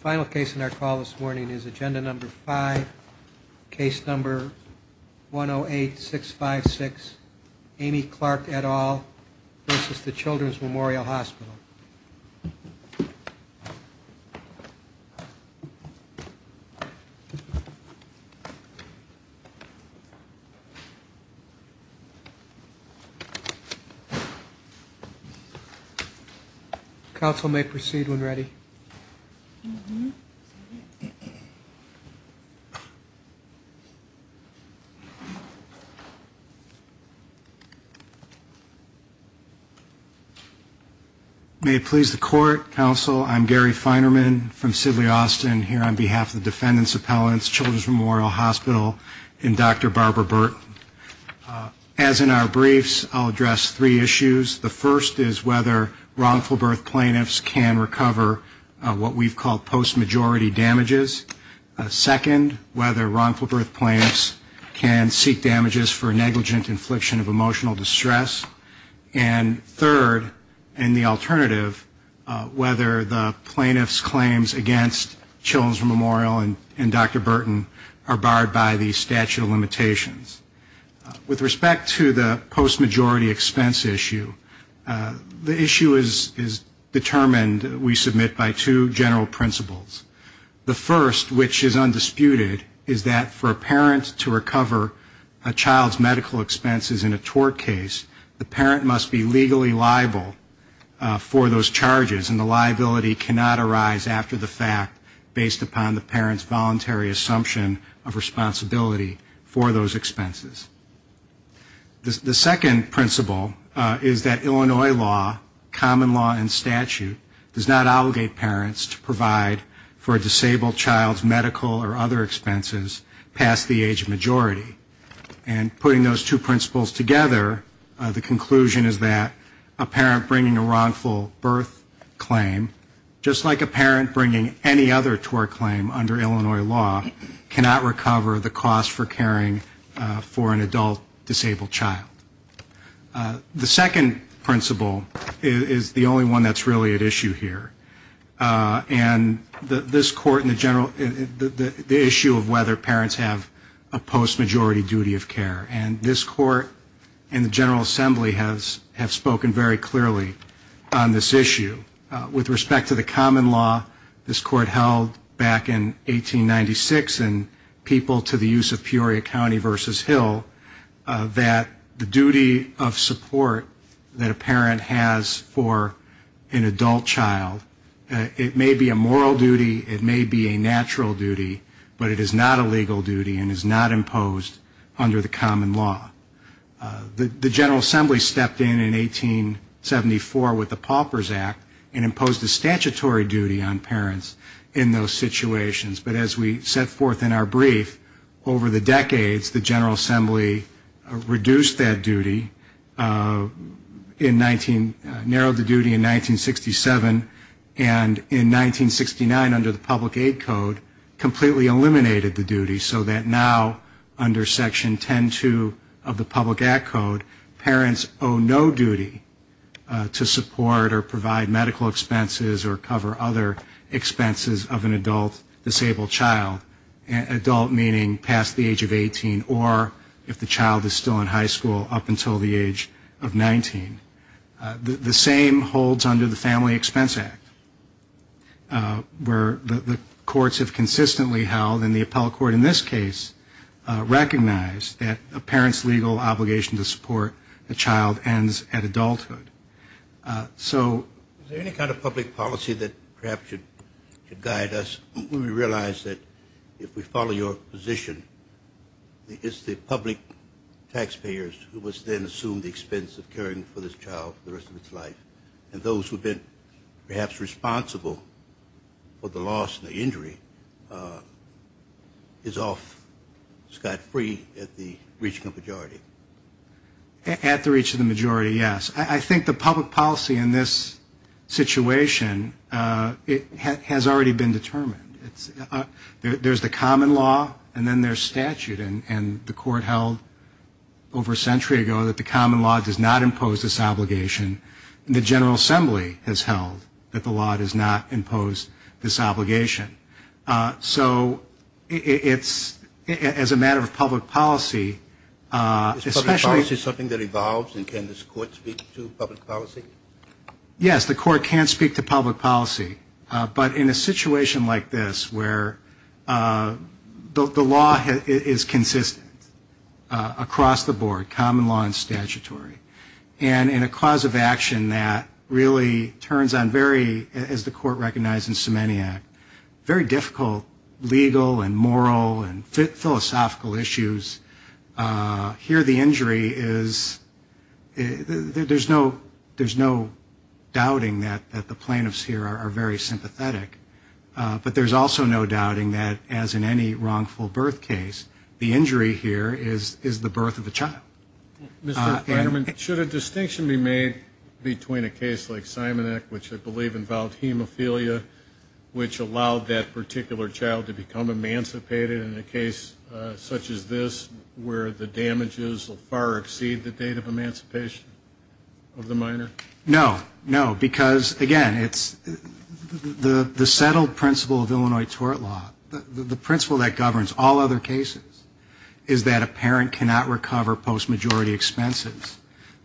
Final case in our call this morning is agenda number five case number 1 0 8 6 5 6 Amy Clark at all versus the Children's Memorial Hospital. Council may proceed when ready. May it please the court, counsel, I'm Gary Feinerman from Sidley Austin here on behalf of the defendants appellants Children's Memorial Hospital and Dr. Barbara Burt. As in our briefs, I'll address three issues. The first is whether wrongful birth plaintiffs can recover what we've called a misdemeanor. damages. Second, whether wrongful birth plaintiffs can seek damages for negligent infliction of emotional distress. And third, and the alternative, whether the plaintiff's claims against Children's Memorial and Dr. Burton are barred by the statute of limitations. With respect to the post-majority expense issue, the issue is determined, we submit, by two general principles. The first, which is undisputed, is that for a parent to recover a child's medical expenses in a tort case, the parent must be legally liable for those charges. And the liability cannot arise after the fact, based upon the parent's voluntary assumption of responsibility for those expenses. The second principle is that the parent must be legally liable for the child's medical expenses. And the third principle is that Illinois law, common law and statute, does not obligate parents to provide for a disabled child's medical or other expenses past the age of majority. And putting those two principles together, the conclusion is that a parent bringing a wrongful birth claim, just like a parent bringing any other tort claim under Illinois law, cannot recover the cost for caring for an adult disabled child. The second principle is the only one that's really at issue here. And this court and the general, the issue of whether parents have a post-majority duty of care. And this court and the General Assembly have spoken very clearly on this issue. With respect to the common law, this court held back in that the duty of support that a parent has for an adult child, it may be a moral duty, it may be a natural duty, but it is not a legal duty and is not imposed under the common law. The General Assembly stepped in in 1874 with the Pauper's Act and imposed a statutory duty on parents in those situations. But as we set forth in our brief, over the decades, the General Assembly has not imposed a statutory duty on parents in those situations. The Pauper's Act reduced that duty in 19, narrowed the duty in 1967, and in 1969 under the Public Aid Code, completely eliminated the duty so that now under Section 10.2 of the Public Act Code, parents owe no duty to support or provide medical expenses or cover other expenses of an adult disabled child. Adult meaning past the age of 18, or if the child is 16 years old. The same holds under the Family Expense Act, where the courts have consistently held, and the appellate court in this case, recognized that a parent's legal obligation to support a child ends at adulthood. So is there any kind of public policy that perhaps should guide us when we realize that if we follow your position, is the public policy that should be in place? And those who have been perhaps responsible for the loss and the injury is off scot-free at the reach of the majority. At the reach of the majority, yes. I think the public policy in this situation has already been determined. There's the common law, and then there's statute. And the court held over a century ago that the common law does not impose this obligation. And the General Assembly has held that the law does not impose this obligation. So it's, as a matter of public policy, especially Is public policy something that evolves, and can this court speak to public policy? Yes, the court can speak to public policy. But in a situation like this, where the law does not impose this obligation, the law is consistent across the board, common law and statutory. And in a cause of action that really turns on very, as the court recognized in Semenyak, very difficult legal and moral and philosophical issues, here the injury is, there's no doubting that the plaintiffs here are very sympathetic. But there's also no doubting that, as in any wrongful birth case, the injury here is the birth of a child. Mr. Fragerman, should a distinction be made between a case like Semenyak, which I believe involved hemophilia, which allowed that particular child to become emancipated, and a case such as this, where the damages will far exceed the date of emancipation of the minor? No, no, because, again, it's the settled principle of Illinois tort law, the principle that governs all other cases, is that a parent cannot recover post-majority expenses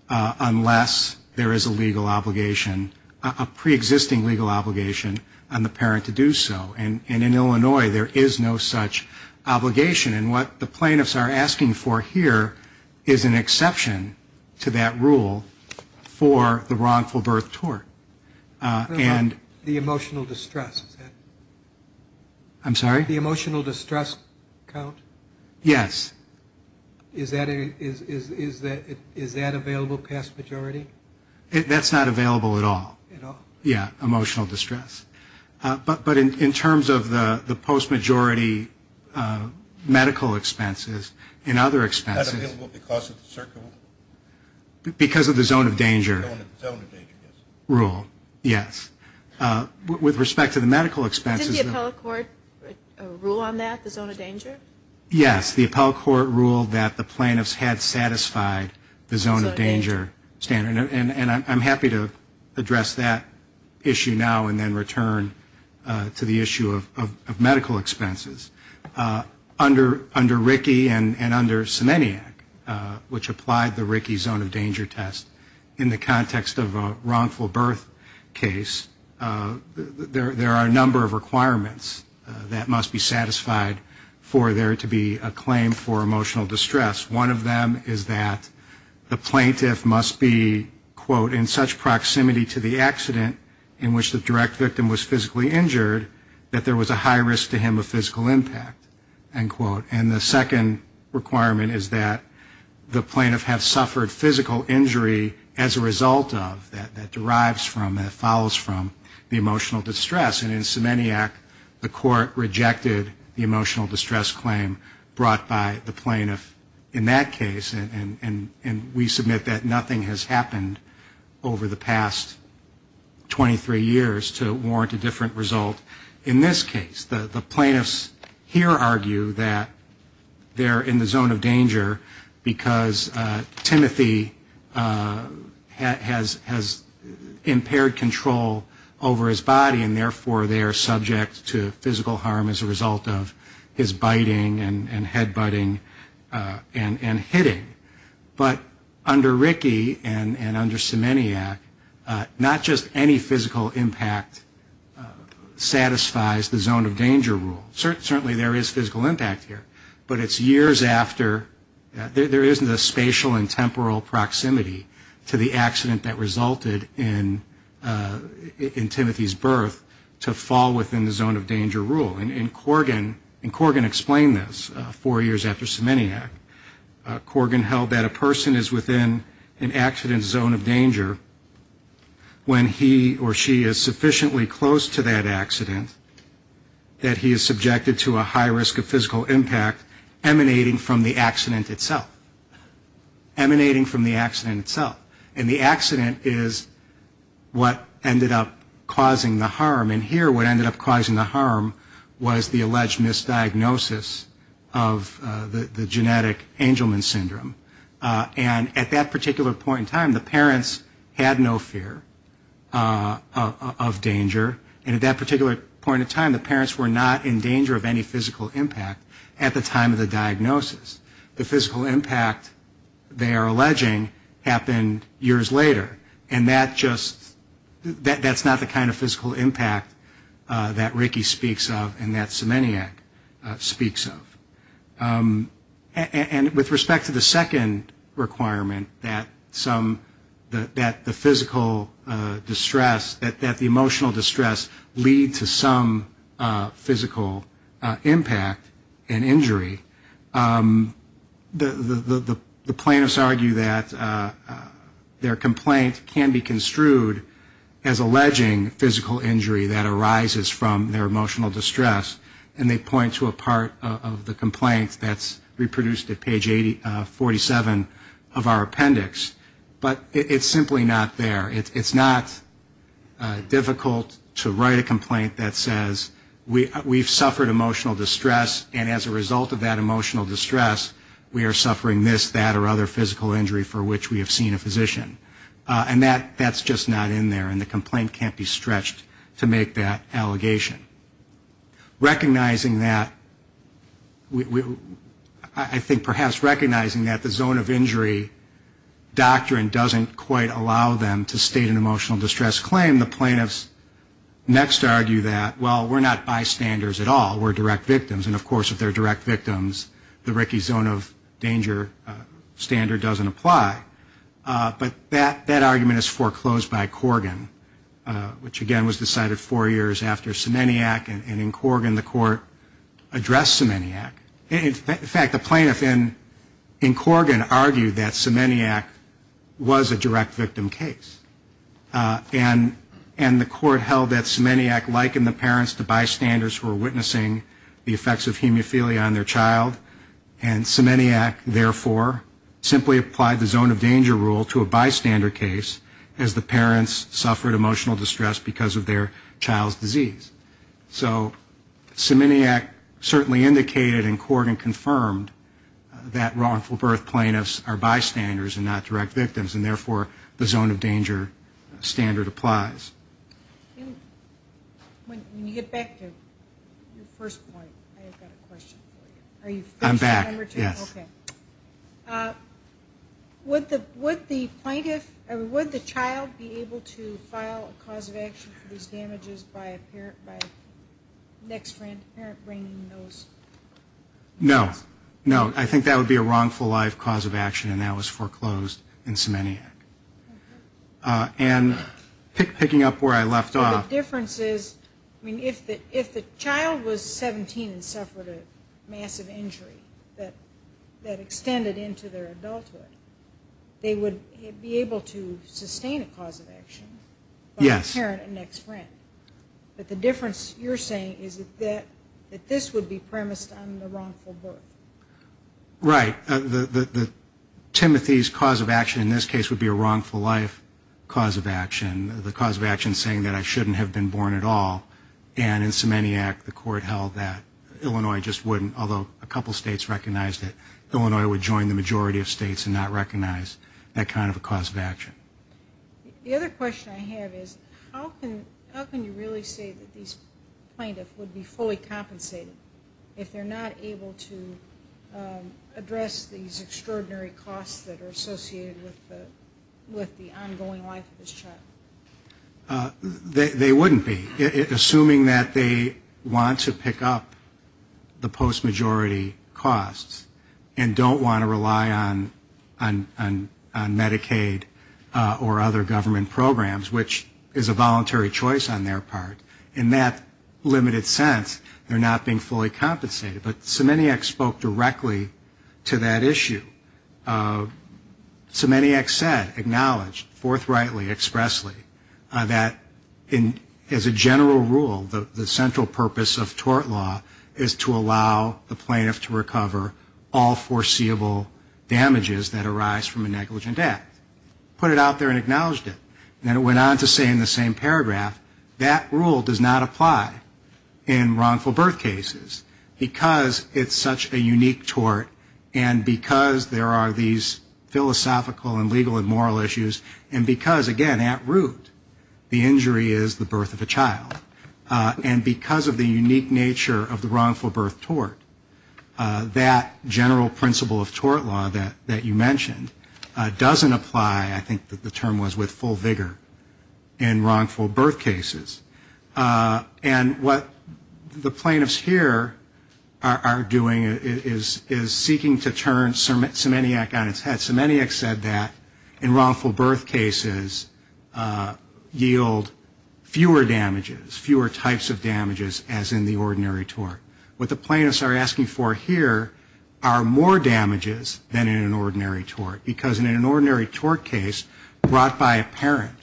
unless there is a legal obligation, a preexisting legal obligation on the parent to do so. And in Illinois, there is no such obligation. And what the plaintiffs are asking for here is an exception to that rule for the wrongful birth tort. The emotional distress, is that? I'm sorry? The emotional distress count? Yes. Is that available past majority? That's not available at all. Yeah, emotional distress. But in terms of the post-majority medical expenses and other expenses... Not available because of the circle? Because of the zone of danger rule, yes. With respect to the medical expenses... Did the Appellate Court rule on that, the zone of danger? Yes, the Appellate Court ruled that the plaintiffs had satisfied the zone of danger standard. And I'm happy to address that issue now and then return to the issue of medical expenses. Under RICI and under Semenyak, which applied the RICI zone of danger test, in the context of a wrongful birth case, there are a number of requirements. That must be satisfied for there to be a claim for emotional distress. One of them is that the plaintiff must be, quote, in such proximity to the accident in which the direct victim was physically injured, that there was a high risk to him of physical impact, end quote. And the second requirement is that the plaintiff have suffered physical injury as a result of, that derives from, that court rejected the emotional distress claim brought by the plaintiff in that case, and we submit that nothing has happened over the past 23 years to warrant a different result in this case. The plaintiffs here argue that they're in the zone of danger because Timothy has impaired control over his body, and therefore they are subject to physical harm as a result of his biting and head butting and hitting. But under RICI and under Semenyak, not just any physical impact satisfies the zone of danger rule. Certainly there is physical impact here, but it's years after, there isn't a spatial and temporal proximity to the accident that resulted in Timothy's birth to fall within the zone of danger rule. And Corgan explained this four years after Semenyak. Corgan held that a person is within an accident zone of danger when he or she is sufficiently close to that accident that he is subjected to a high risk of physical impact emanating from the accident itself. And the accident is what ended up causing the harm. And here what ended up causing the harm was the alleged misdiagnosis of the genetic Angelman syndrome. And at that particular point in time, the parents had no fear of danger, and at that particular point in time, the parents were not in danger of any physical impact at the time of the diagnosis. The physical impact they are alleging had no effect on the diagnosis, but it happened years later. And that just, that's not the kind of physical impact that RICI speaks of and that Semenyak speaks of. And with respect to the second requirement, that some, that the physical distress, that the emotional distress lead to some physical impact and injury, the plaintiffs argue that it's not the case. Their complaint can be construed as alleging physical injury that arises from their emotional distress, and they point to a part of the complaint that's reproduced at page 47 of our appendix, but it's simply not there. It's not difficult to write a complaint that says we've suffered emotional distress, and as a result of that emotional distress, we've seen a physician. And that's just not in there, and the complaint can't be stretched to make that allegation. Recognizing that, I think perhaps recognizing that the zone of injury doctrine doesn't quite allow them to state an emotional distress claim, the plaintiffs next argue that, well, we're not bystanders at all. We're direct victims, and of course, if they're direct victims, the RICI zone of danger standard doesn't apply. But that argument is foreclosed by Corgan, which again was decided four years after Semenyak, and in Corgan the court addressed Semenyak. In fact, the plaintiff in Corgan argued that Semenyak was a direct victim case, and the court held that Semenyak likened the parents to bystanders who were witnessing the effects of hemophilia on their child, and referred the child to a bystander case as the parents suffered emotional distress because of their child's disease. So Semenyak certainly indicated in Corgan confirmed that wrongful birth plaintiffs are bystanders and not direct victims, and therefore, the zone of danger standard applies. When you get back to your first point, I've got a question for you. I'm back, yes. Okay. Would the child be able to file a cause of action for these damages by next parent bringing those? No. No. I think that would be a wrongful life cause of action, and that was foreclosed in Semenyak. And picking up where I left off... I mean, if the child was 17 and suffered a massive injury that extended into their adulthood, they would be able to sustain a cause of action by the parent and next friend. But the difference you're saying is that this would be premised on the wrongful birth. Right. Timothy's cause of action in this case would be a wrongful life cause of action. The cause of action saying that I shouldn't have been born at all. And in Semenyak, the court held that Illinois just wouldn't, although a couple states recognized it. Illinois would join the majority of states and not recognize that kind of a cause of action. The other question I have is, how can you really say that these plaintiffs would be fully compensated if they're not able to address these extraordinary costs that are associated with the ongoing life of this child? They wouldn't be. Assuming that they want to pick up the post-majority costs and don't want to rely on Medicaid or other government programs, which is a voluntary choice on their part, in that limited sense, they're not being fully compensated. But Semenyak spoke directly to that issue. Semenyak said, acknowledged, forthrightly, expressly, that as a general rule, the central purpose of tort law is to allow the plaintiff to recover all foreseeable damages that arise from a negligent act. Put it out there and acknowledged it. Then it went on to say in the same paragraph, that rule does not apply in wrongful birth cases because it's such a unique tort and because there are these philosophical and legal and moral issues, and because, again, at root, the injury is the birth of a child. And because of the unique nature of the wrongful birth tort, that general principle of tort law that you mentioned doesn't apply, I think that the term was, with full vigor in wrongful birth cases. And what the plaintiffs here are doing is seeking to turn Semenyak on its head. Semenyak said that, and Semenyak said that, in wrongful birth cases yield fewer damages, fewer types of damages as in the ordinary tort. What the plaintiffs are asking for here are more damages than in an ordinary tort. Because in an ordinary tort case, brought by a parent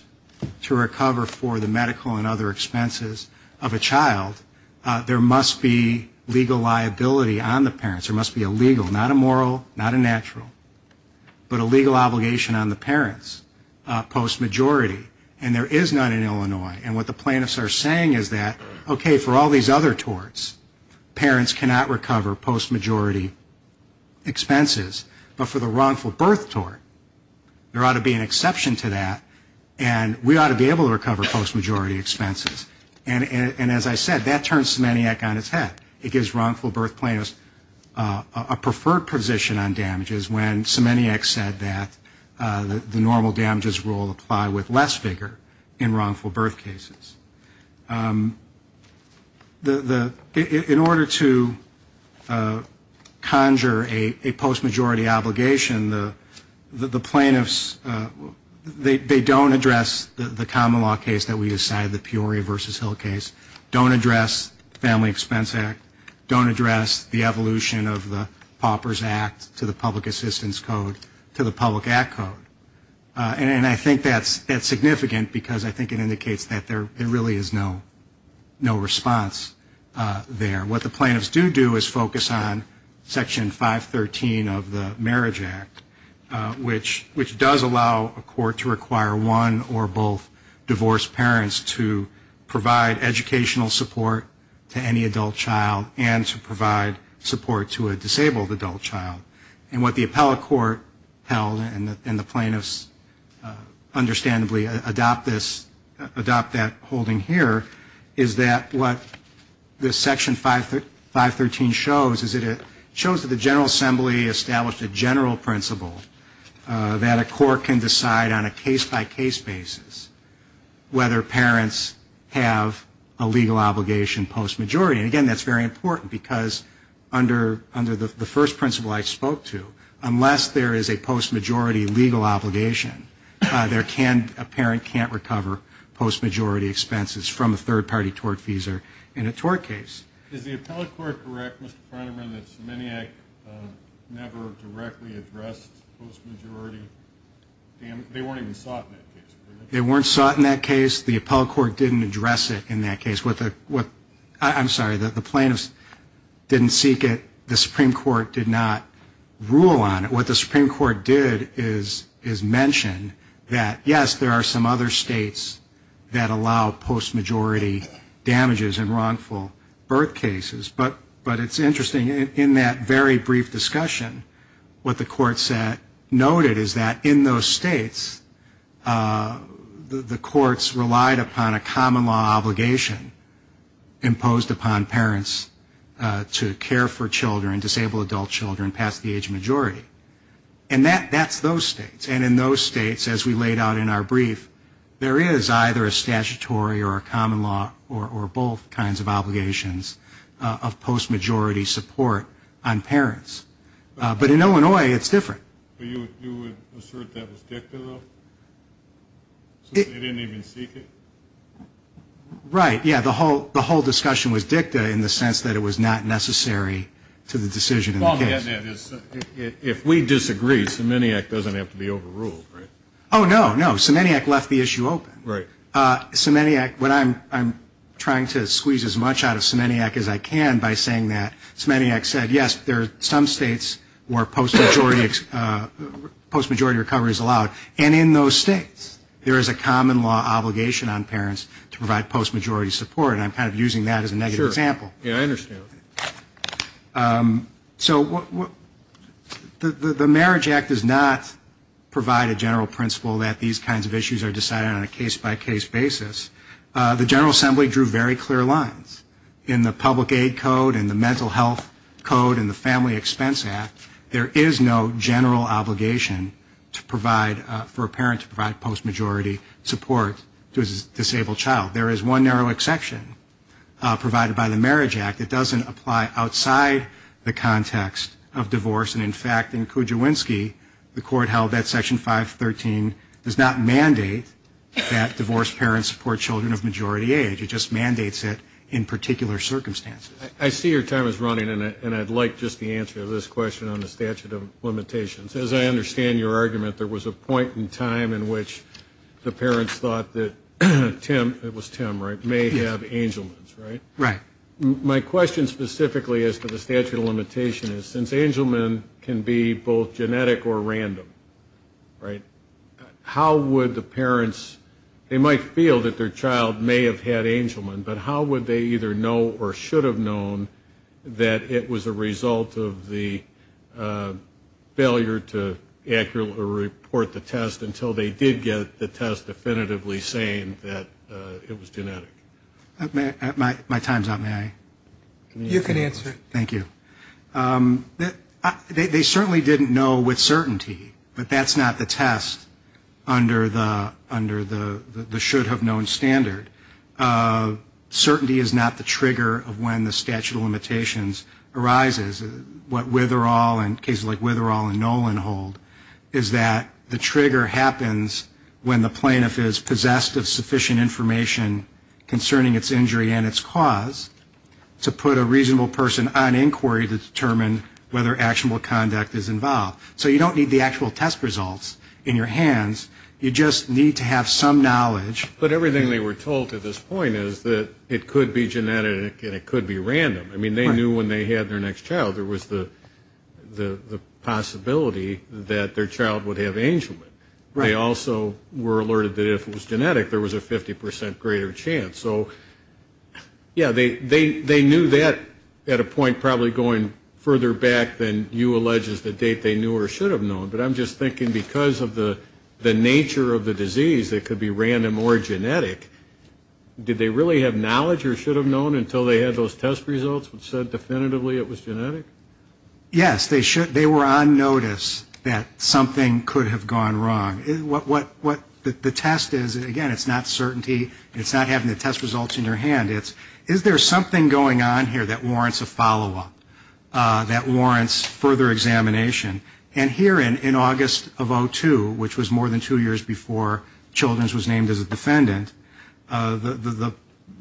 to recover for the medical and other expenses of a child, there must be legal liability on the parents. There is no legal liability on the parents post-majority. And there is none in Illinois. And what the plaintiffs are saying is that, okay, for all these other torts, parents cannot recover post-majority expenses. But for the wrongful birth tort, there ought to be an exception to that, and we ought to be able to recover post-majority expenses. And as I said, that turns Semenyak on its head. It gives wrongful birth plaintiffs a preferred position on damages when Semenyak said that the normal damages rule applied with less vigor in wrongful birth cases. In order to conjure a post-majority obligation, the plaintiffs, they don't address the common law case that we decided, the Peoria v. Hill case, don't address the Family Expense Act, don't address the evolution of the Paupers Act to the Public Act Code. And I think that's significant because I think it indicates that there really is no response there. What the plaintiffs do do is focus on Section 513 of the Marriage Act, which does allow a court to require one or both divorced parents to provide educational support to any adult child and to provide support to a disabled adult child. And what the appellate court held, and the plaintiffs understandably adopt this, adopt that holding here, is that what this Section 513 shows is that it shows that the General Assembly established a general principle that a court can decide on a case-by-case basis whether parents have a legal obligation post-majority. And again, that's very similar to the principle I spoke to. Unless there is a post-majority legal obligation, there can't, a parent can't recover post-majority expenses from a third-party tort fees in a tort case. Is the appellate court correct, Mr. Freidman, that Semenyak never directly addressed post-majority damage? They weren't even able to not rule on it. What the Supreme Court did is mention that, yes, there are some other states that allow post-majority damages in wrongful birth cases, but it's interesting, in that very brief discussion, what the court noted is that in those states, the courts relied upon a common law obligation imposed upon parents to care for children, disabled adult children, past the age majority. And that's those states. And in those states, as we laid out in our brief, there is either a statutory or a common law or both kinds of obligations of post-majority support on parents. But in Illinois, it's different. But you would assert that was dicta, though? So they didn't even seek it? Right. Yeah, the whole discussion was dicta in the sense that it was not necessary to the decision in the case. If we disagree, Semenyak doesn't have to be overruled, right? Oh, no, no. Semenyak left the issue open. Semenyak, what I'm trying to squeeze as much out of Semenyak as I can by saying that, Semenyak said, yes, there are some states where post-majority recovery is allowed. And in those states, there is a common law obligation on parents to provide post-majority support. And I'm kind of using that as a negative example. Sure. Yeah, I understand. So the Marriage Act does not provide a general principle that these kinds of issues are decided on a case-by-case basis. The General Assembly drew very clear lines. In the Public Aid Code, in the Mental Health Code, in the Family Expense Act, there is no general obligation to provide, for a parent to provide post-majority support. There is one narrow exception provided by the Marriage Act. It doesn't apply outside the context of divorce. And, in fact, in Kujawinski, the court held that Section 513 does not mandate that divorced parents support children of majority age. It just mandates it in particular circumstances. I see your time is running, and I'd like just the answer to this question on the statute of limitations. As I understand your argument, there was a point in time in which the parents thought that Tim, it was Tim, right, may have Angelman's, right? Right. My question specifically as to the statute of limitation is, since Angelman can be both genetic or random, right, how would the parents, they might feel that their child may have had Angelman, but how would they either know or should have known that it was a result of the failure to accurately report the test until they did get the test definitively saying that it was genetic? My time is up. May I? You can answer. Thank you. They certainly didn't know with certainty, but that's not the test under the should have known standard. Certainty is not the trigger of when the statute of limitations arises. What Witherell and cases like Witherell and Nolan hold is that the trigger happens when the plaintiff is possessed of sufficient information concerning its injury and its cause to put a reasonable person on inquiry to determine whether actionable conduct is involved. So you don't need the actual test results in your hands. You just need to have some knowledge. But everything they were told to this point is that it could be genetic and it could be random. I mean, they knew when they had their next child, there was the possibility that their child would have Angelman. They also were alerted that if it was genetic, there was a 50 percent greater chance. So, yeah, they knew that at a point probably going further back than you allege is the date they knew or should have known. But I'm just thinking because of the nature of the disease, it could be random or genetic. Did they really have knowledge or should have known until they had those test results which said definitively it was genetic? Yes, they were on notice that something could have gone wrong. What the test is, again, it's not certainty. It's not having the test results in your hand. It's is there something going on here that warrants a follow-up, that warrants further examination? And here in August of 02, which was more than two years before Children's was named as a defendant,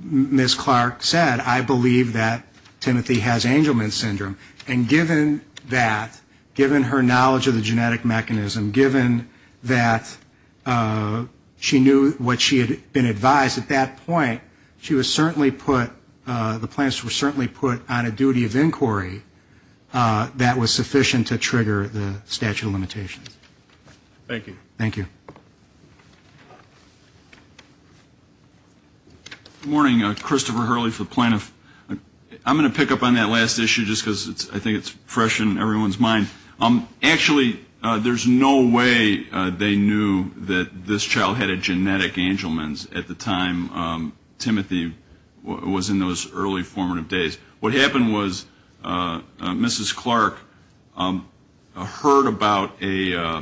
Ms. Clark said, I believe that Timothy has Angelman syndrome. And given that, given her knowledge of the genetic mechanism, given that she knew what she had been advised, at that point, she was certainly put, the plans were certainly put on a duty of inquiry that was sufficient to trigger the statute of limitations. Thank you. Good morning. Christopher Hurley for Plano. I'm going to pick up on that last issue just because I think it's fresh in everyone's mind. Actually, there's no way they knew that this child had a genetic Angelman's at the time Timothy was in those early formative days. What happened was Mrs. Clark heard about a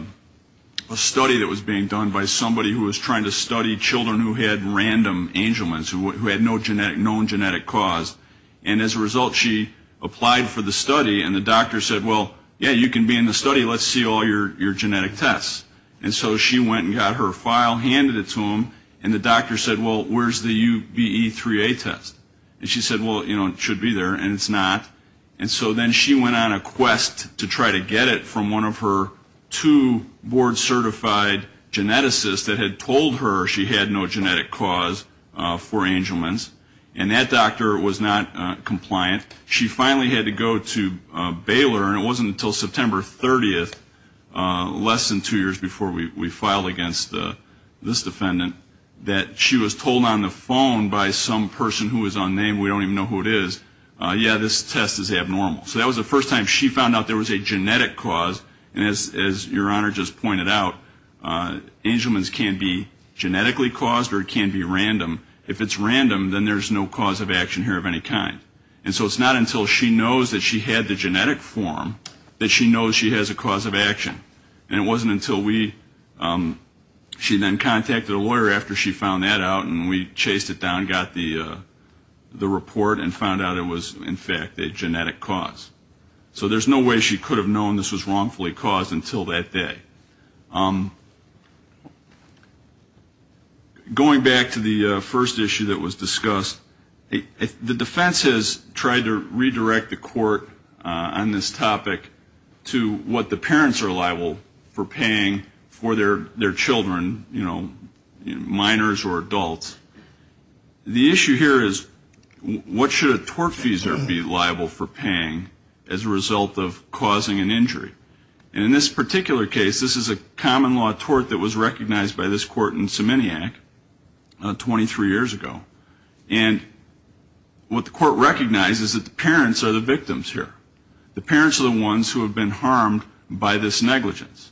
study that was being done by somebody who was trying to study children who had random Angelman's, who had no known genetic cause, and as a result, she applied for the study, and the doctor said, well, yeah, you can be in the study. Let's see all your genetic tests. And so she went and got her file, handed it to him, and the doctor said, well, where's the UBE3A test? And she said, well, you know, it should be there, and it's not. And so then she went on a quest to try to get it from one of her two board-certified geneticists that had told her she had no genetic cause for Angelman's, and that doctor was not compliant. She finally had to go to Baylor, and it wasn't until September 30th, less than two years before we filed against this defendant, that she was told on the phone by some person who was unnamed, we don't even know who it is, yeah, this test is abnormal. So that was the first time she found out there was a genetic cause, and as your Honor just pointed out, Angelman's can be genetically caused or it can be random. If it's random, then there's no cause of action here of any kind. And so it's not until she knows that she had the genetic form that she knows she has a cause of action. And it wasn't until we, she then contacted a lawyer after she found that out, and we chased it down, got the report, and found out it was, in fact, a genetic cause. So there's no way she could have known this was wrongfully caused until that day. Going back to the first issue that was discussed, the defense has tried to redirect the court on this topic to what the parents are liable for paying for their children, you know, minors or adults. The issue here is what should a tortfeasor be liable for paying as a result of causing an injury? And in this particular case, this is a common law tort that was recognized by this court in Semenyak 23 years ago. And what the court recognized is that the parents are the victims here. The parents are the ones who have been harmed by this negligence.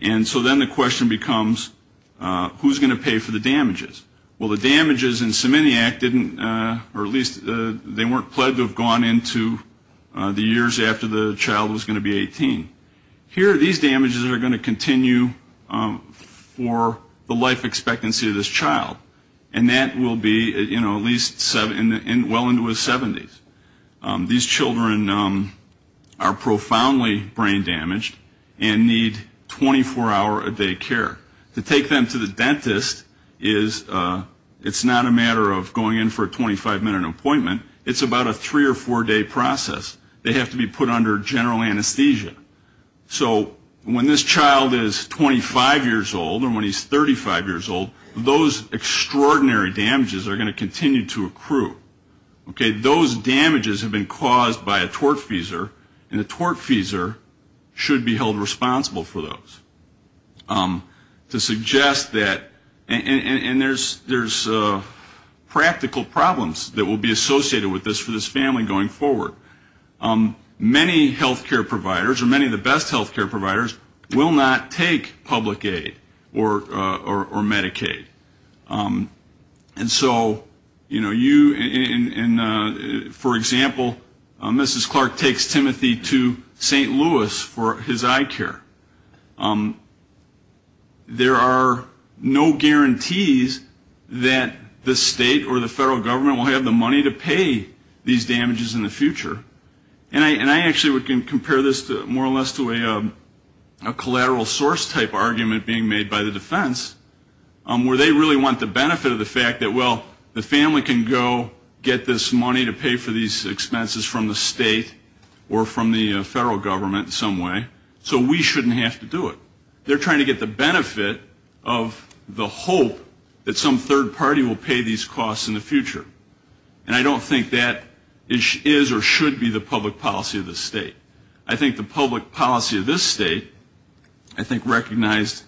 And so then the question becomes who's going to pay for the damages? Well, the damages in Semenyak didn't, or at least they weren't pled to have gone into the years after the child was going to be 18. Here these damages are going to continue for the life expectancy of this child. And that will be, you know, at least well into his 70s. These children are profoundly brain damaged and need 24 hour a day care. To take them to the dentist is, it's not a matter of going in for a 25 minute appointment. It's about a three or four day process. So when this child is 25 years old or when he's 35 years old, those extraordinary damages are going to continue to accrue. Those damages have been caused by a tortfeasor and a tortfeasor should be held responsible for those. To suggest that, and there's practical problems that will be associated with this for this family going forward. Many health care providers or many of the best health care providers will not take public aid or Medicaid. And so, you know, you, for example, Mrs. Clark takes Timothy to St. Louis for his eye care. There are no guarantees that the state or the federal government will have the money to pay these damages in the future. And I actually would compare this more or less to a collateral source type argument being made by the defense. Where they really want the benefit of the fact that, well, the family can go get this money to pay for these expenses from the state or from the federal government in some way, so we shouldn't have to do it. They're trying to get the benefit of the hope that some third party will pay these costs in the future. And I don't think that is or should be the public policy of this state. I think the public policy of this state, I think recognized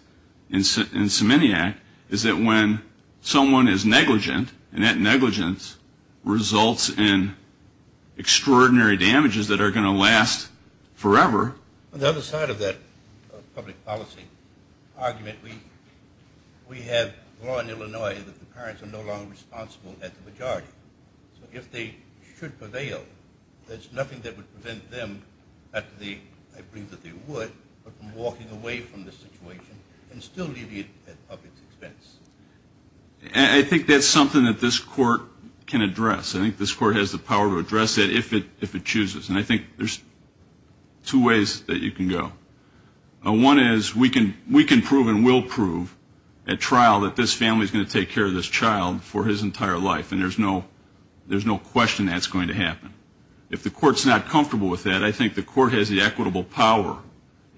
in Semenyak, is that when someone is negligent and that negligence results in extraordinary damages that are going to last forever. On the other side of that public policy argument, we have law in Illinois that the parents are no longer responsible at the majority. So if they should prevail, there's nothing that would prevent them, I believe that they would, from walking away from the situation and still leaving it at the public's expense. I think that's something that this court can address. I think this court has the power to address it if it chooses. And I think there's two ways that you can go. One is we can prove and will prove at trial that this family is going to take care of this child for his entire life and there's no question that's going to happen. If the court's not comfortable with that, I think the court has the equitable power,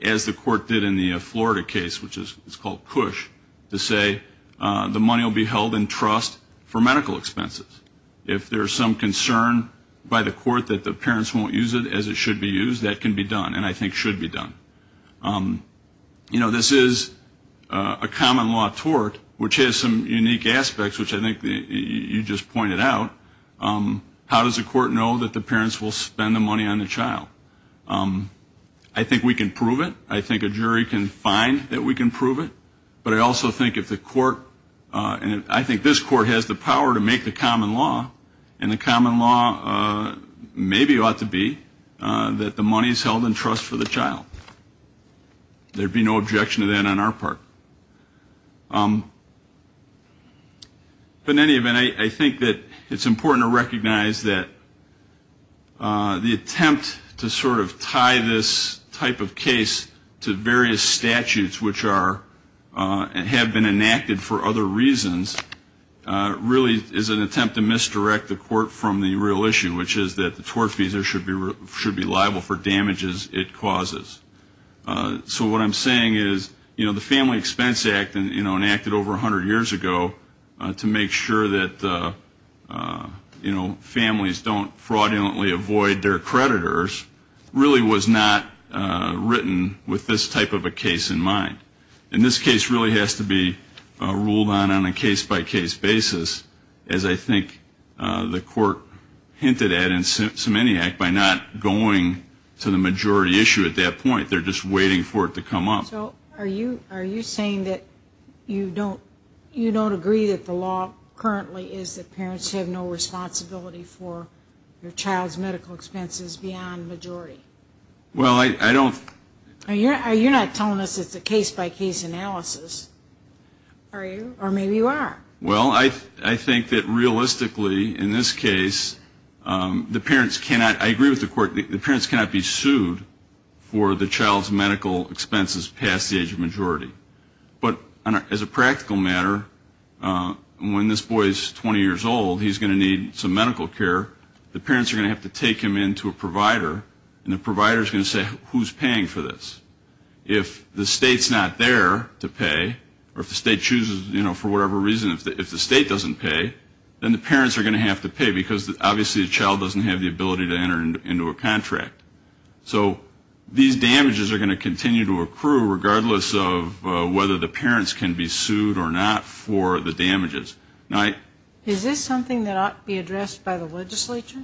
as the court did in the Florida case, which is called PUSH, to say the money will be held in trust for medical expenses. If there's some concern by the court that the parents won't use it as it should be used, that can be done and I think should be done. You know, this is a common law tort, which has some unique aspects, which I think you just pointed out. How does the court know that the parents will spend the money on the child? I think we can prove it. I think a jury can find that we can prove it. But I also think if the court, and I think this court has the power to make the common law, and the common law maybe ought to be that the money's held in trust for the child. There'd be no objection to that on our part. In any event, I think that it's important to recognize that the attempt to sort of tie this type of case to various statutes, which have been enacted for other reasons, really is an attempt to misdirect the court from the real issue, which is that the tort fees should be liable for damages it causes. So what I'm saying is, you know, the Family Expense Act enacted over 100 years ago, to make sure that, you know, families don't fraudulently avoid their creditors, really was not written with this type of a case in mind. And this case really has to be ruled on on a case-by-case basis, as I think the court hinted at in Semenyak, by not going to the majority issue at that point. They're just waiting for it to come up. So are you saying that you don't agree that the law currently is that parents have no responsibility for their child's medical expenses beyond majority? Well, I don't... You're not telling us it's a case-by-case analysis, are you? Or maybe you are. Well, I think that realistically, in this case, the parents cannot, I agree with the court, the parents cannot be sued for the child's medical expenses paid. They have to pass the age of majority. But as a practical matter, when this boy is 20 years old, he's going to need some medical care. The parents are going to have to take him in to a provider, and the provider is going to say, who's paying for this? If the state's not there to pay, or if the state chooses, you know, for whatever reason, if the state doesn't pay, then the parents are going to have to pay, because obviously the child doesn't have the ability to enter into a contract. So these damages are going to continue to accrue, regardless of whether the parents can be sued or not for the damages. Is this something that ought to be addressed by the legislature?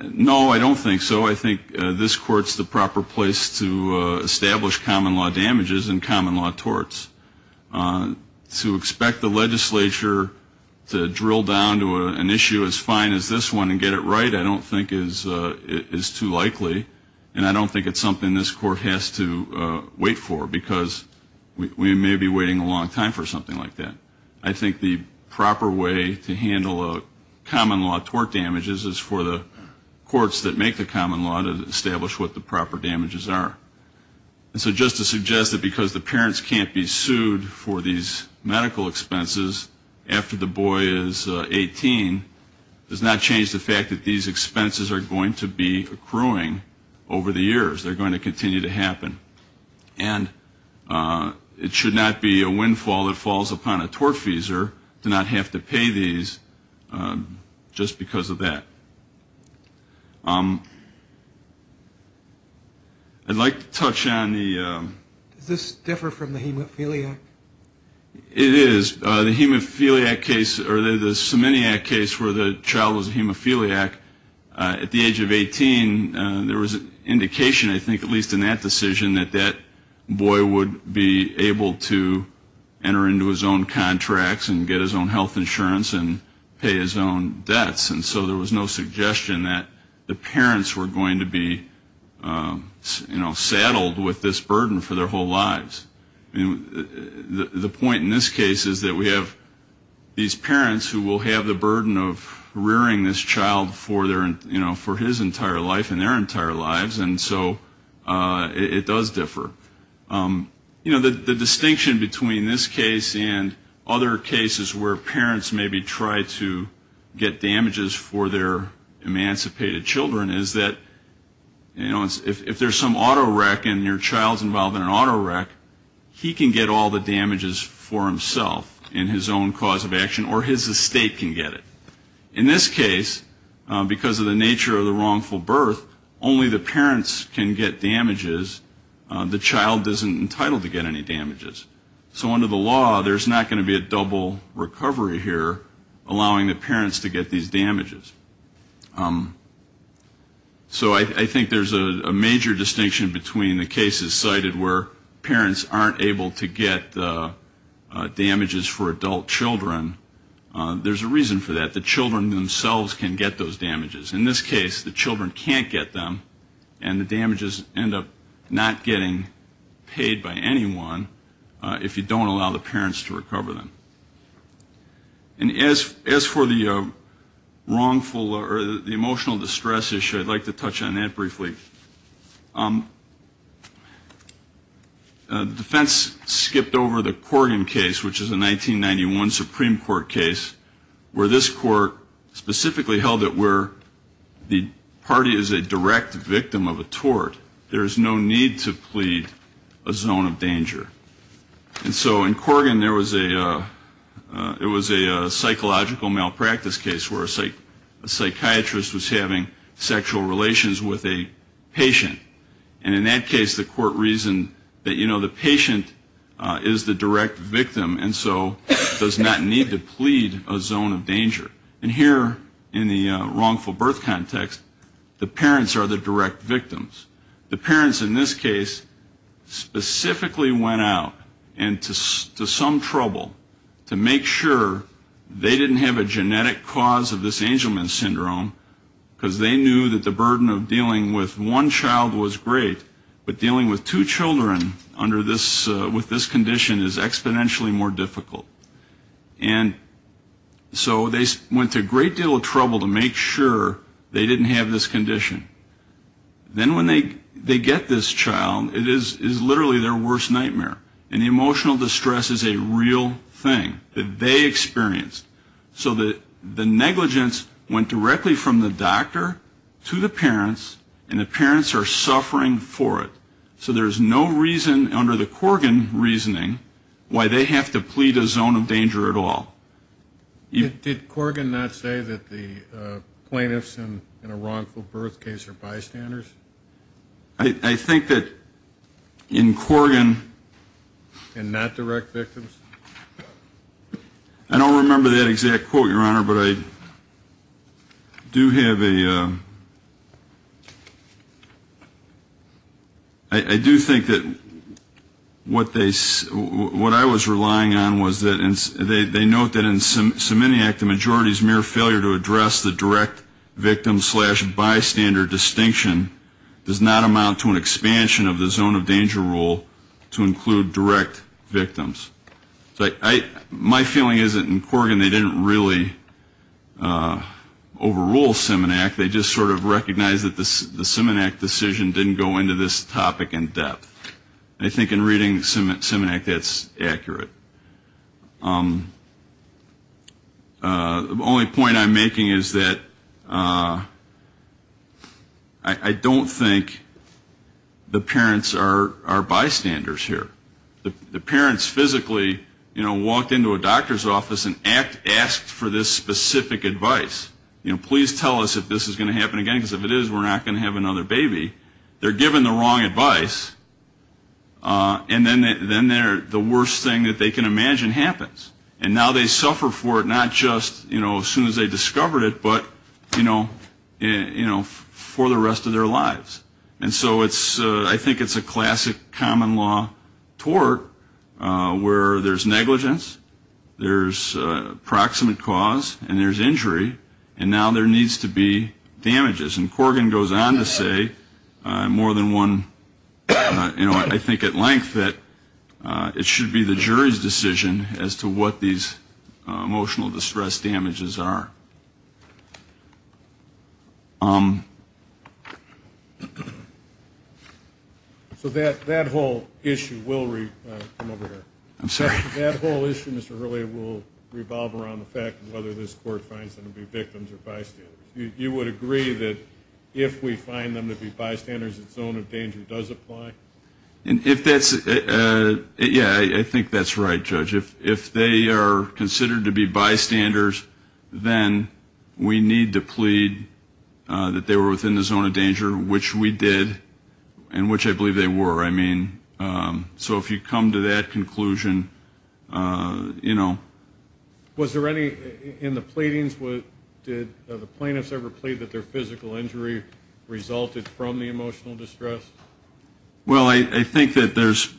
No, I don't think so. I think this court's the proper place to establish common law damages and common law torts. To expect the legislature to drill down to an issue as fine as this one and get it right, I don't think is too likely. And I don't think it's something this court has to wait for, because we may be waiting a long time for something like that. I think the proper way to handle common law tort damages is for the courts that make the common law to establish what the proper damages are. And so just to suggest that because the parents can't be sued for these medical expenses after the boy is 18 does not change the fact that these expenses are going to be accruing over the years. They're going to continue to happen. And it should not be a windfall that falls upon a tortfeasor to not have to pay these just because of that. I'd like to touch on the... Does this differ from the hemophiliac? It is. The hemophiliac case, or the seminiac case where the child was a hemophiliac, at the age of 18, there was an indication, I think, at least in that decision, that that boy would be able to enter into his own contracts and get his own health insurance and pay his own debts. And so there was no suggestion that the parents were going to be, you know, saddled with this burden for their whole lives. And the point in this case is that we have these parents who will have the burden of rearing this child for their, you know, for his entire life and their entire lives, and so it does differ. You know, the distinction between this case and other cases where parents maybe try to get damages for their emancipated children is that, you know, if there's some auto wreck and your child's involved in an auto wreck, you know, there's a risk that the child can get all the damages for himself in his own cause of action, or his estate can get it. In this case, because of the nature of the wrongful birth, only the parents can get damages. The child isn't entitled to get any damages. So under the law, there's not going to be a double recovery here allowing the parents to get these damages. So I think there's a major distinction between the cases cited where parents aren't entitled to get damages. If the parents aren't able to get damages for adult children, there's a reason for that. The children themselves can get those damages. In this case, the children can't get them, and the damages end up not getting paid by anyone if you don't allow the parents to recover them. And as for the wrongful or the emotional distress issue, I'd like to touch on that briefly. The defense skipped over the Corrigan case, which is a 1991 Supreme Court case, where this court specifically held it where the party is a direct victim of a tort, there's no need to plead a zone of danger. And so in Corrigan, there was a psychological malpractice case where a psychiatrist was having sexual relations with a patient. And in that case, the court reasoned that, you know, the patient is the direct victim, and so does not need to plead a zone of danger. And here in the wrongful birth context, the parents are the direct victims. The parents in this case specifically went out and to some trouble to make sure they didn't have a genetic cause of this Angelman syndrome, because they knew that the burden of dealing with one child was too much for them. And so they went to a great deal of trouble to make sure they didn't have this condition. Then when they get this child, it is literally their worst nightmare. And the emotional distress is a real thing that they experienced. So the negligence went directly from the doctor to the parents, and the parents are so upset that they can't do anything about it. They're suffering for it. So there's no reason under the Corrigan reasoning why they have to plead a zone of danger at all. Did Corrigan not say that the plaintiffs in a wrongful birth case are bystanders? I think that in Corrigan... And not direct victims? I don't remember that exact quote, Your Honor, but I do have a... I do think that what they... What I was relying on was that they note that in Simenac the majority's mere failure to address the direct victim slash bystander distinction does not amount to an expansion of the zone of danger rule to include direct victims. My feeling is that in Corrigan they didn't really overrule Simenac. They just sort of recognized that the Simenac decision didn't go into this topic in depth. I think in reading Simenac that's accurate. The only point I'm making is that I don't think the parents are bystanders here. The parents physically, you know, walked into a doctor's office and asked for this specific advice. Please tell us if this is going to happen again, because if it is we're not going to have another baby. They're given the wrong advice, and then the worst thing that they can imagine happens. And now they suffer for it, not just as soon as they discover it, but for the rest of their lives. And so I think it's a classic common law tort where there's negligence, there's proximate cause, and there's injury. And now there needs to be damages. And Corrigan goes on to say more than one, you know, I think at length that it should be the jury's decision as to what these emotional distress damages are. So that whole issue will revolve around the fact whether this court finds them to be victims. You would agree that if we find them to be bystanders, a zone of danger does apply? And if that's, yeah, I think that's right, Judge. If they are considered to be bystanders, then we need to plead that they were within the zone of danger, which we did, and which I believe they were. I mean, so if you come to that conclusion, you know. Was there any, in the pleadings, did the plaintiffs ever plead that their physical injury resulted from the emotional distress? Well, I think that there's.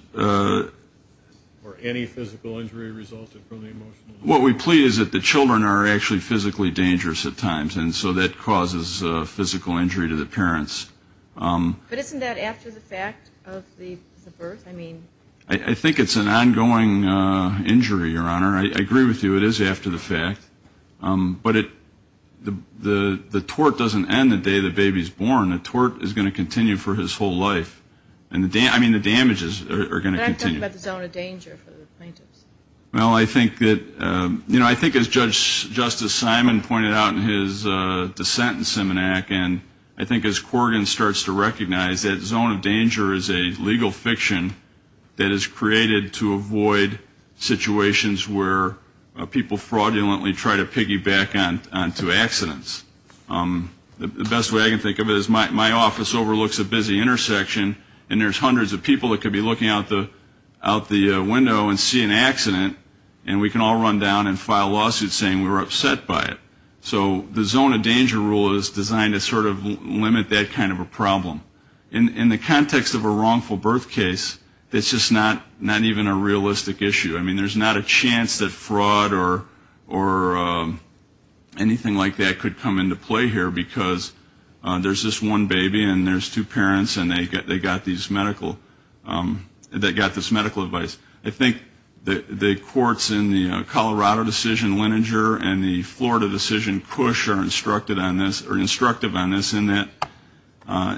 Or any physical injury resulted from the emotional distress. What we plead is that the children are actually physically dangerous at times, and so that causes physical injury to the parents. But isn't that after the fact of the birth? I think it's an ongoing injury, Your Honor. I agree with you, it is after the fact. But the tort doesn't end the day the baby's born. The tort is going to continue for his whole life. I mean, the damages are going to continue. Can I talk about the zone of danger for the plaintiffs? Well, I think that, you know, I think as Judge Justice Simon pointed out in his dissent in Seminac, and I think as Corgan starts to recognize that zone of danger is a legal fiction that is created to avoid situations where the child is physically dangerous. Where people fraudulently try to piggyback onto accidents. The best way I can think of it is my office overlooks a busy intersection, and there's hundreds of people that could be looking out the window and see an accident, and we can all run down and file lawsuits saying we were upset by it. So the zone of danger rule is designed to sort of limit that kind of a problem. In the context of a wrongful birth case, it's just not even a realistic issue. I mean, there's not a chance that fraud or anything like that could come into play here, because there's this one baby and there's two parents, and they got this medical advice. I think the courts in the Colorado decision, Leninger, and the Florida decision, Cush, are instructive on this in that,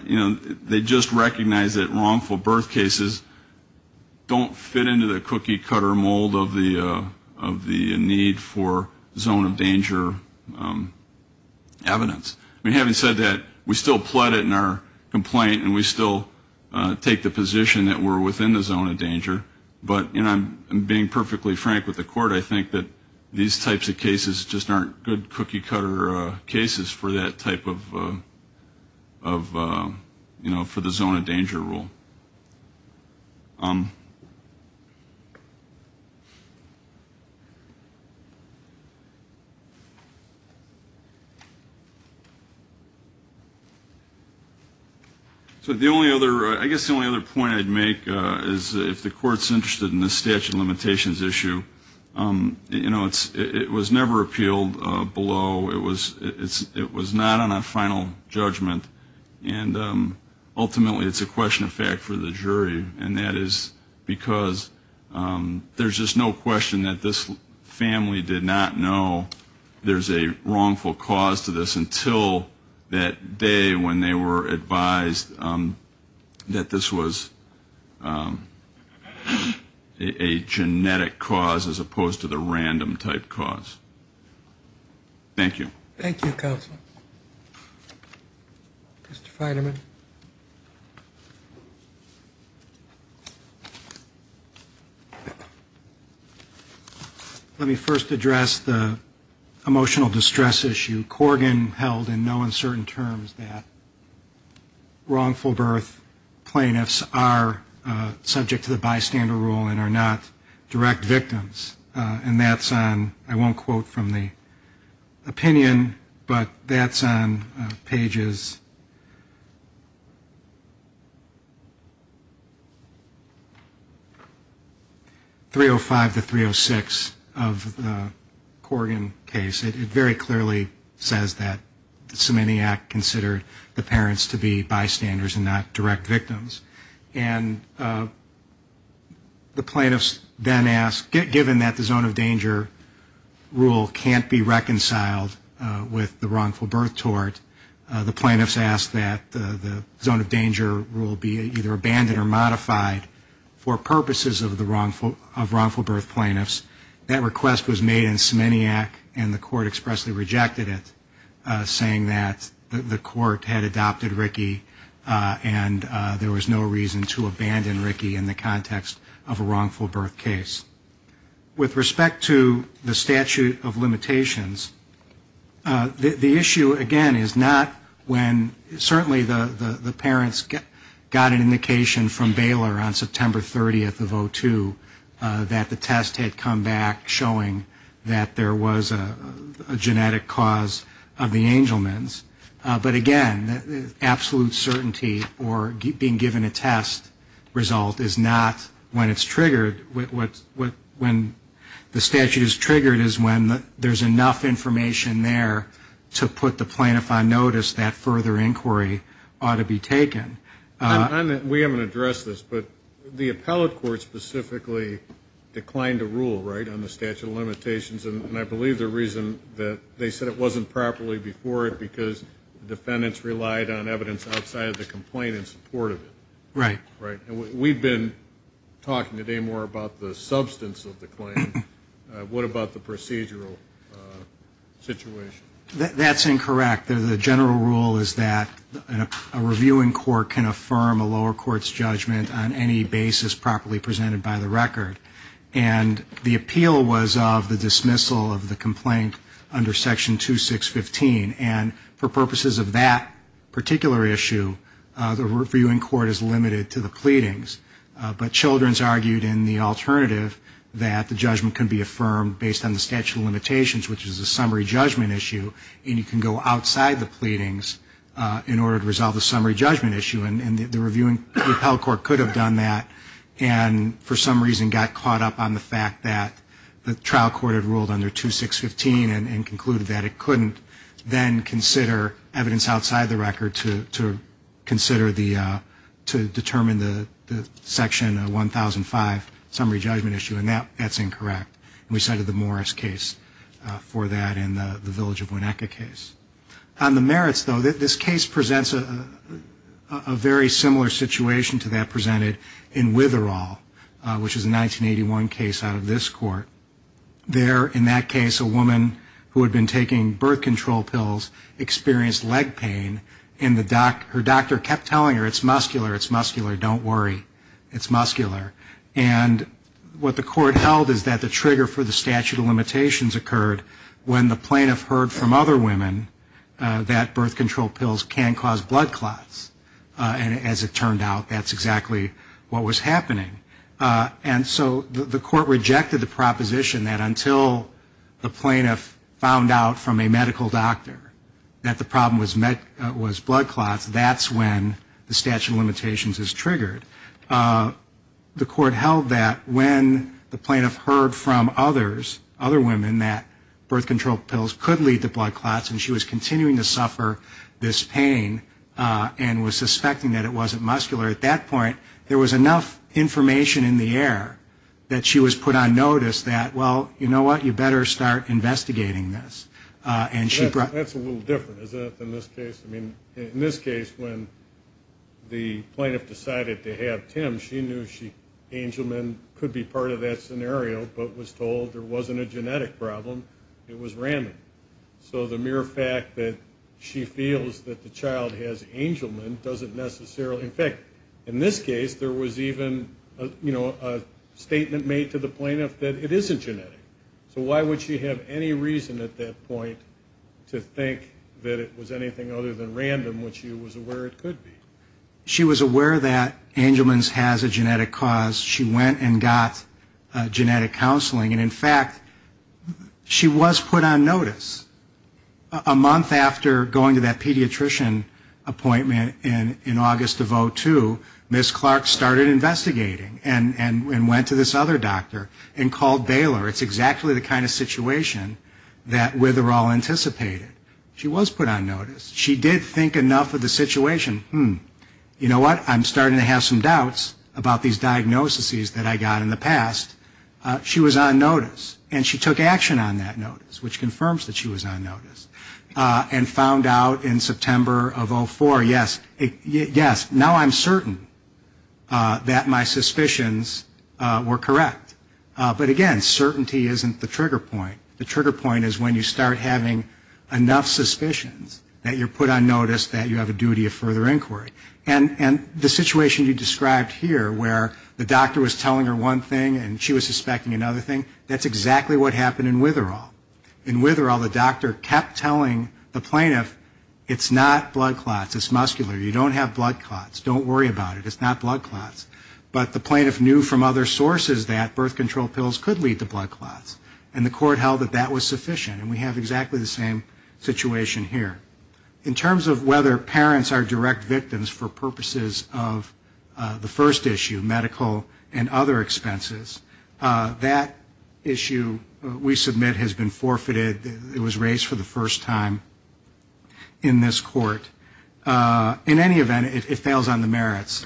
you know, they just recognize that wrongful birth cases don't fit into the cookie-cutter mold. Of the need for zone of danger evidence. I mean, having said that, we still plot it in our complaint, and we still take the position that we're within the zone of danger. But, you know, I'm being perfectly frank with the court, I think that these types of cases just aren't good cookie-cutter cases for that type of, you know, for the zone of danger rule. So the only other, I guess the only other point I'd make is if the court's interested in this statute of limitations issue, you know, it was never appealed below, it was not on a final judgment, and ultimately it's a question of fact for the jury, and that is because there's just no question that this family did not know there's a wrongful cause to this until that day when they were advised that this was a genetic cause as opposed to the random type cause. Thank you. Thank you, Counselor. Let me first address the emotional distress issue. Corgan held in no uncertain terms that wrongful birth plaintiffs are subject to the bystander rule and are not direct victims. And that's on, I won't quote from the opinion, but that's on pages 305 and 306. 305 to 306 of the Corgan case, it very clearly says that Semenyak considered the parents to be bystanders and not direct victims. And the plaintiffs then ask, given that the zone of danger rule can't be reconciled with the wrongful birth tort, the plaintiffs ask that the zone of danger rule be either abandoned or modified for purposes of wrongful birth tort. And that request was made in Semenyak and the court expressly rejected it, saying that the court had adopted Ricky and there was no reason to abandon Ricky in the context of a wrongful birth case. With respect to the statute of limitations, the issue, again, is not when certainly the parents got an indication from Baylor on whether the test had come back showing that there was a genetic cause of the Angelman's. But again, absolute certainty or being given a test result is not when it's triggered. When the statute is triggered is when there's enough information there to put the plaintiff on notice that further inquiry ought to be taken. We haven't addressed this, but the appellate court specifically declined to rule, right, on the statute of limitations. And I believe the reason that they said it wasn't properly before it because defendants relied on evidence outside of the complaint in support of it. Right. And we've been talking today more about the substance of the claim. What about the procedural situation? That's incorrect. The general rule is that a reviewing court can affirm a lower court's judgment on any basis properly presented by the record. And the appeal was of the dismissal of the complaint under Section 2615. And for purposes of that particular issue, the reviewing court is limited to the pleadings. But Children's argued in the alternative that the judgment can be affirmed based on the statute of limitations, which is a summary judgment issue, and you can go outside the pleadings in order to resolve the summary judgment issue. And the reviewing appellate court could have done that and for some reason got caught up on the fact that the trial court had decided to then consider evidence outside the record to consider the, to determine the Section 1005 summary judgment issue. And that's incorrect. And we cited the Morris case for that and the Village of Weneca case. On the merits, though, this case presents a very similar situation to that presented in Witherall, which is a 1981 case out of this case, a woman who had been taking birth control pills experienced leg pain and her doctor kept telling her, it's muscular, it's muscular, don't worry, it's muscular. And what the court held is that the trigger for the statute of limitations occurred when the plaintiff heard from other women that birth control pills can cause blood clots. And as it turned out, that's exactly what was happening. The plaintiff found out from a medical doctor that the problem was blood clots. That's when the statute of limitations is triggered. The court held that when the plaintiff heard from others, other women, that birth control pills could lead to blood clots and she was continuing to suffer this pain and was suspecting that it wasn't muscular, at that point there was enough information in the air that she was put on notice that, well, you know what, you better start investigating this. And she brought... That's a little different, isn't it, than this case? I mean, in this case, when the plaintiff decided to have Tim, she knew Angelman could be part of that scenario, but was told there wasn't a genetic problem, it was random. So the mere fact that she feels that the child has Angelman doesn't necessarily... In this case, there was even, you know, a statement made to the plaintiff that it isn't genetic. So why would she have any reason at that point to think that it was anything other than random, which she was aware it could be? She was aware that Angelman's has a genetic cause. She went and got genetic counseling, and in fact, she was put on notice. A month after going to that pediatrician appointment in August of 02, Ms. Clark started investigating and went to this other doctor and called Baylor. It's exactly the kind of situation that Witherall anticipated. She was put on notice. She did think enough of the situation, hmm, you know what, I'm starting to have some doubts about these diagnoses that I got in the past. She was on notice, and she took action on that notice, which confirms that she was on notice. And found out in September of 04, yes, now I'm certain that my suspicions were correct. But again, certainty isn't the trigger point. The trigger point is when you start having enough suspicions that you're put on notice that you have a duty of further inquiry. And the situation you described here, where the doctor was telling her one thing and she was suspecting another thing, that's exactly what the doctor kept telling the plaintiff. It's not blood clots. It's muscular. You don't have blood clots. Don't worry about it. It's not blood clots. But the plaintiff knew from other sources that birth control pills could lead to blood clots, and the court held that that was sufficient, and we have exactly the same situation here. In terms of whether parents are direct victims for purposes of the first issue, medical and other expenses, that issue we submit has been forfeited. It was raised for the first time in this court. In any event, it fails on the merits.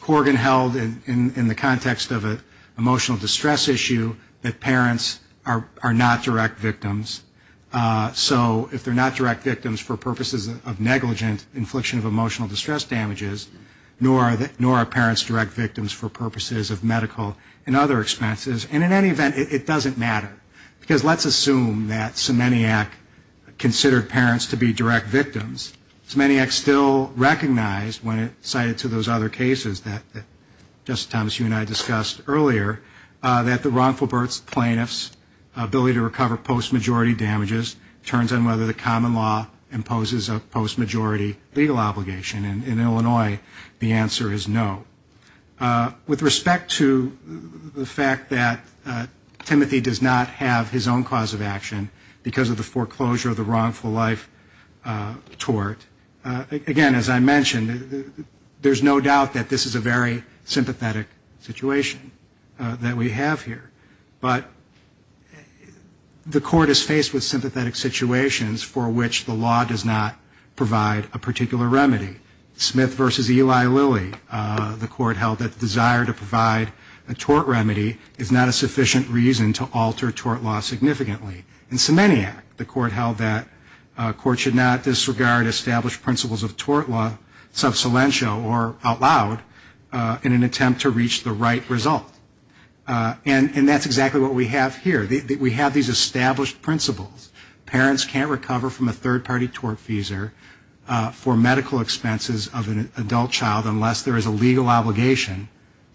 Corgan held in the context of an emotional distress issue that parents are not direct victims. So if they're not direct victims for purposes of negligent infliction of emotional distress damages, nor are parents direct victims for purposes of medical and other expenses, and in any event, it doesn't matter. Because let's assume that Semenyak considered parents to be direct victims. Semenyak still recognized when it cited to those other cases that Justice Thomas, you and I discussed earlier, that the wrongful birth plaintiff's ability to recover post-majority damages turns on whether the common law imposes a post-majority legal obligation. In Illinois, the answer is no. With respect to the fact that Timothy does not have his own cause of action because of the foreclosure of the wrongful life tort, again, as I mentioned, there's no doubt that this is a very sympathetic situation that we have here. But the court is faced with sympathetic situations for which the law does not provide a particular remedy. Smith v. Eli Lilly, the court held that the desire to provide a tort remedy is not a sufficient reason to alter tort law significantly. And Semenyak, the court held that courts should not disregard established principles of tort law, sub silentio or out loud, in an attempt to reach the right result. And that's exactly what we have here. We have these established principles. Parents can't recover from a third-party tort feser for medical expenses of an adult child unless there is a legal obligation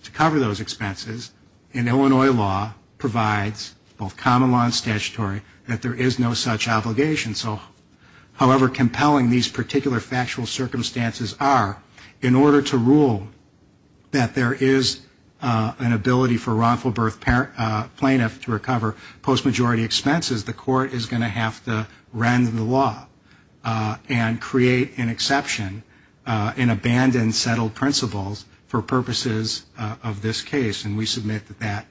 to cover those expenses. And Illinois law provides, both common law and statutory, that there is no such obligation. So however compelling these particular factual circumstances are, in order to rule that there is an ability for wrongful birth plaintiff to recover post-majority expenses, the court is going to have to render the law and create an exception and abandon settled principles for purposes of this case. And we submit that that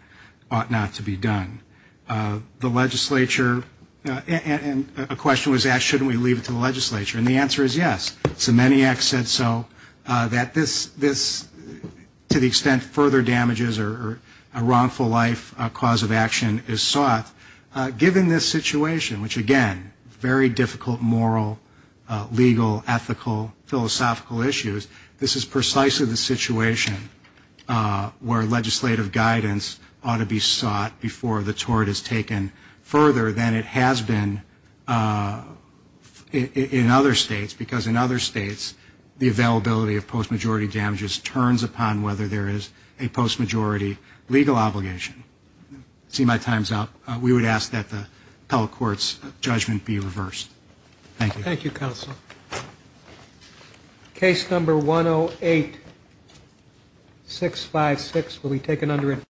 ought not to be done. The legislature, and a question was asked, shouldn't we leave it to the legislature? And the answer is yes. Semenyak said so, that this, to the extent further damages or a wrongful life cause of action is sought, given this situation, which again, very difficult moral, legal, ethical, philosophical issues, this is precisely the situation where legislative guidance ought to be sought before the tort is taken further than it has been in other states. Because in other states, the availability of post-majority damages turns upon whether there is a post-majority legal obligation. See, my time's up. We would ask that the appellate court's judgment be reversed. Thank you.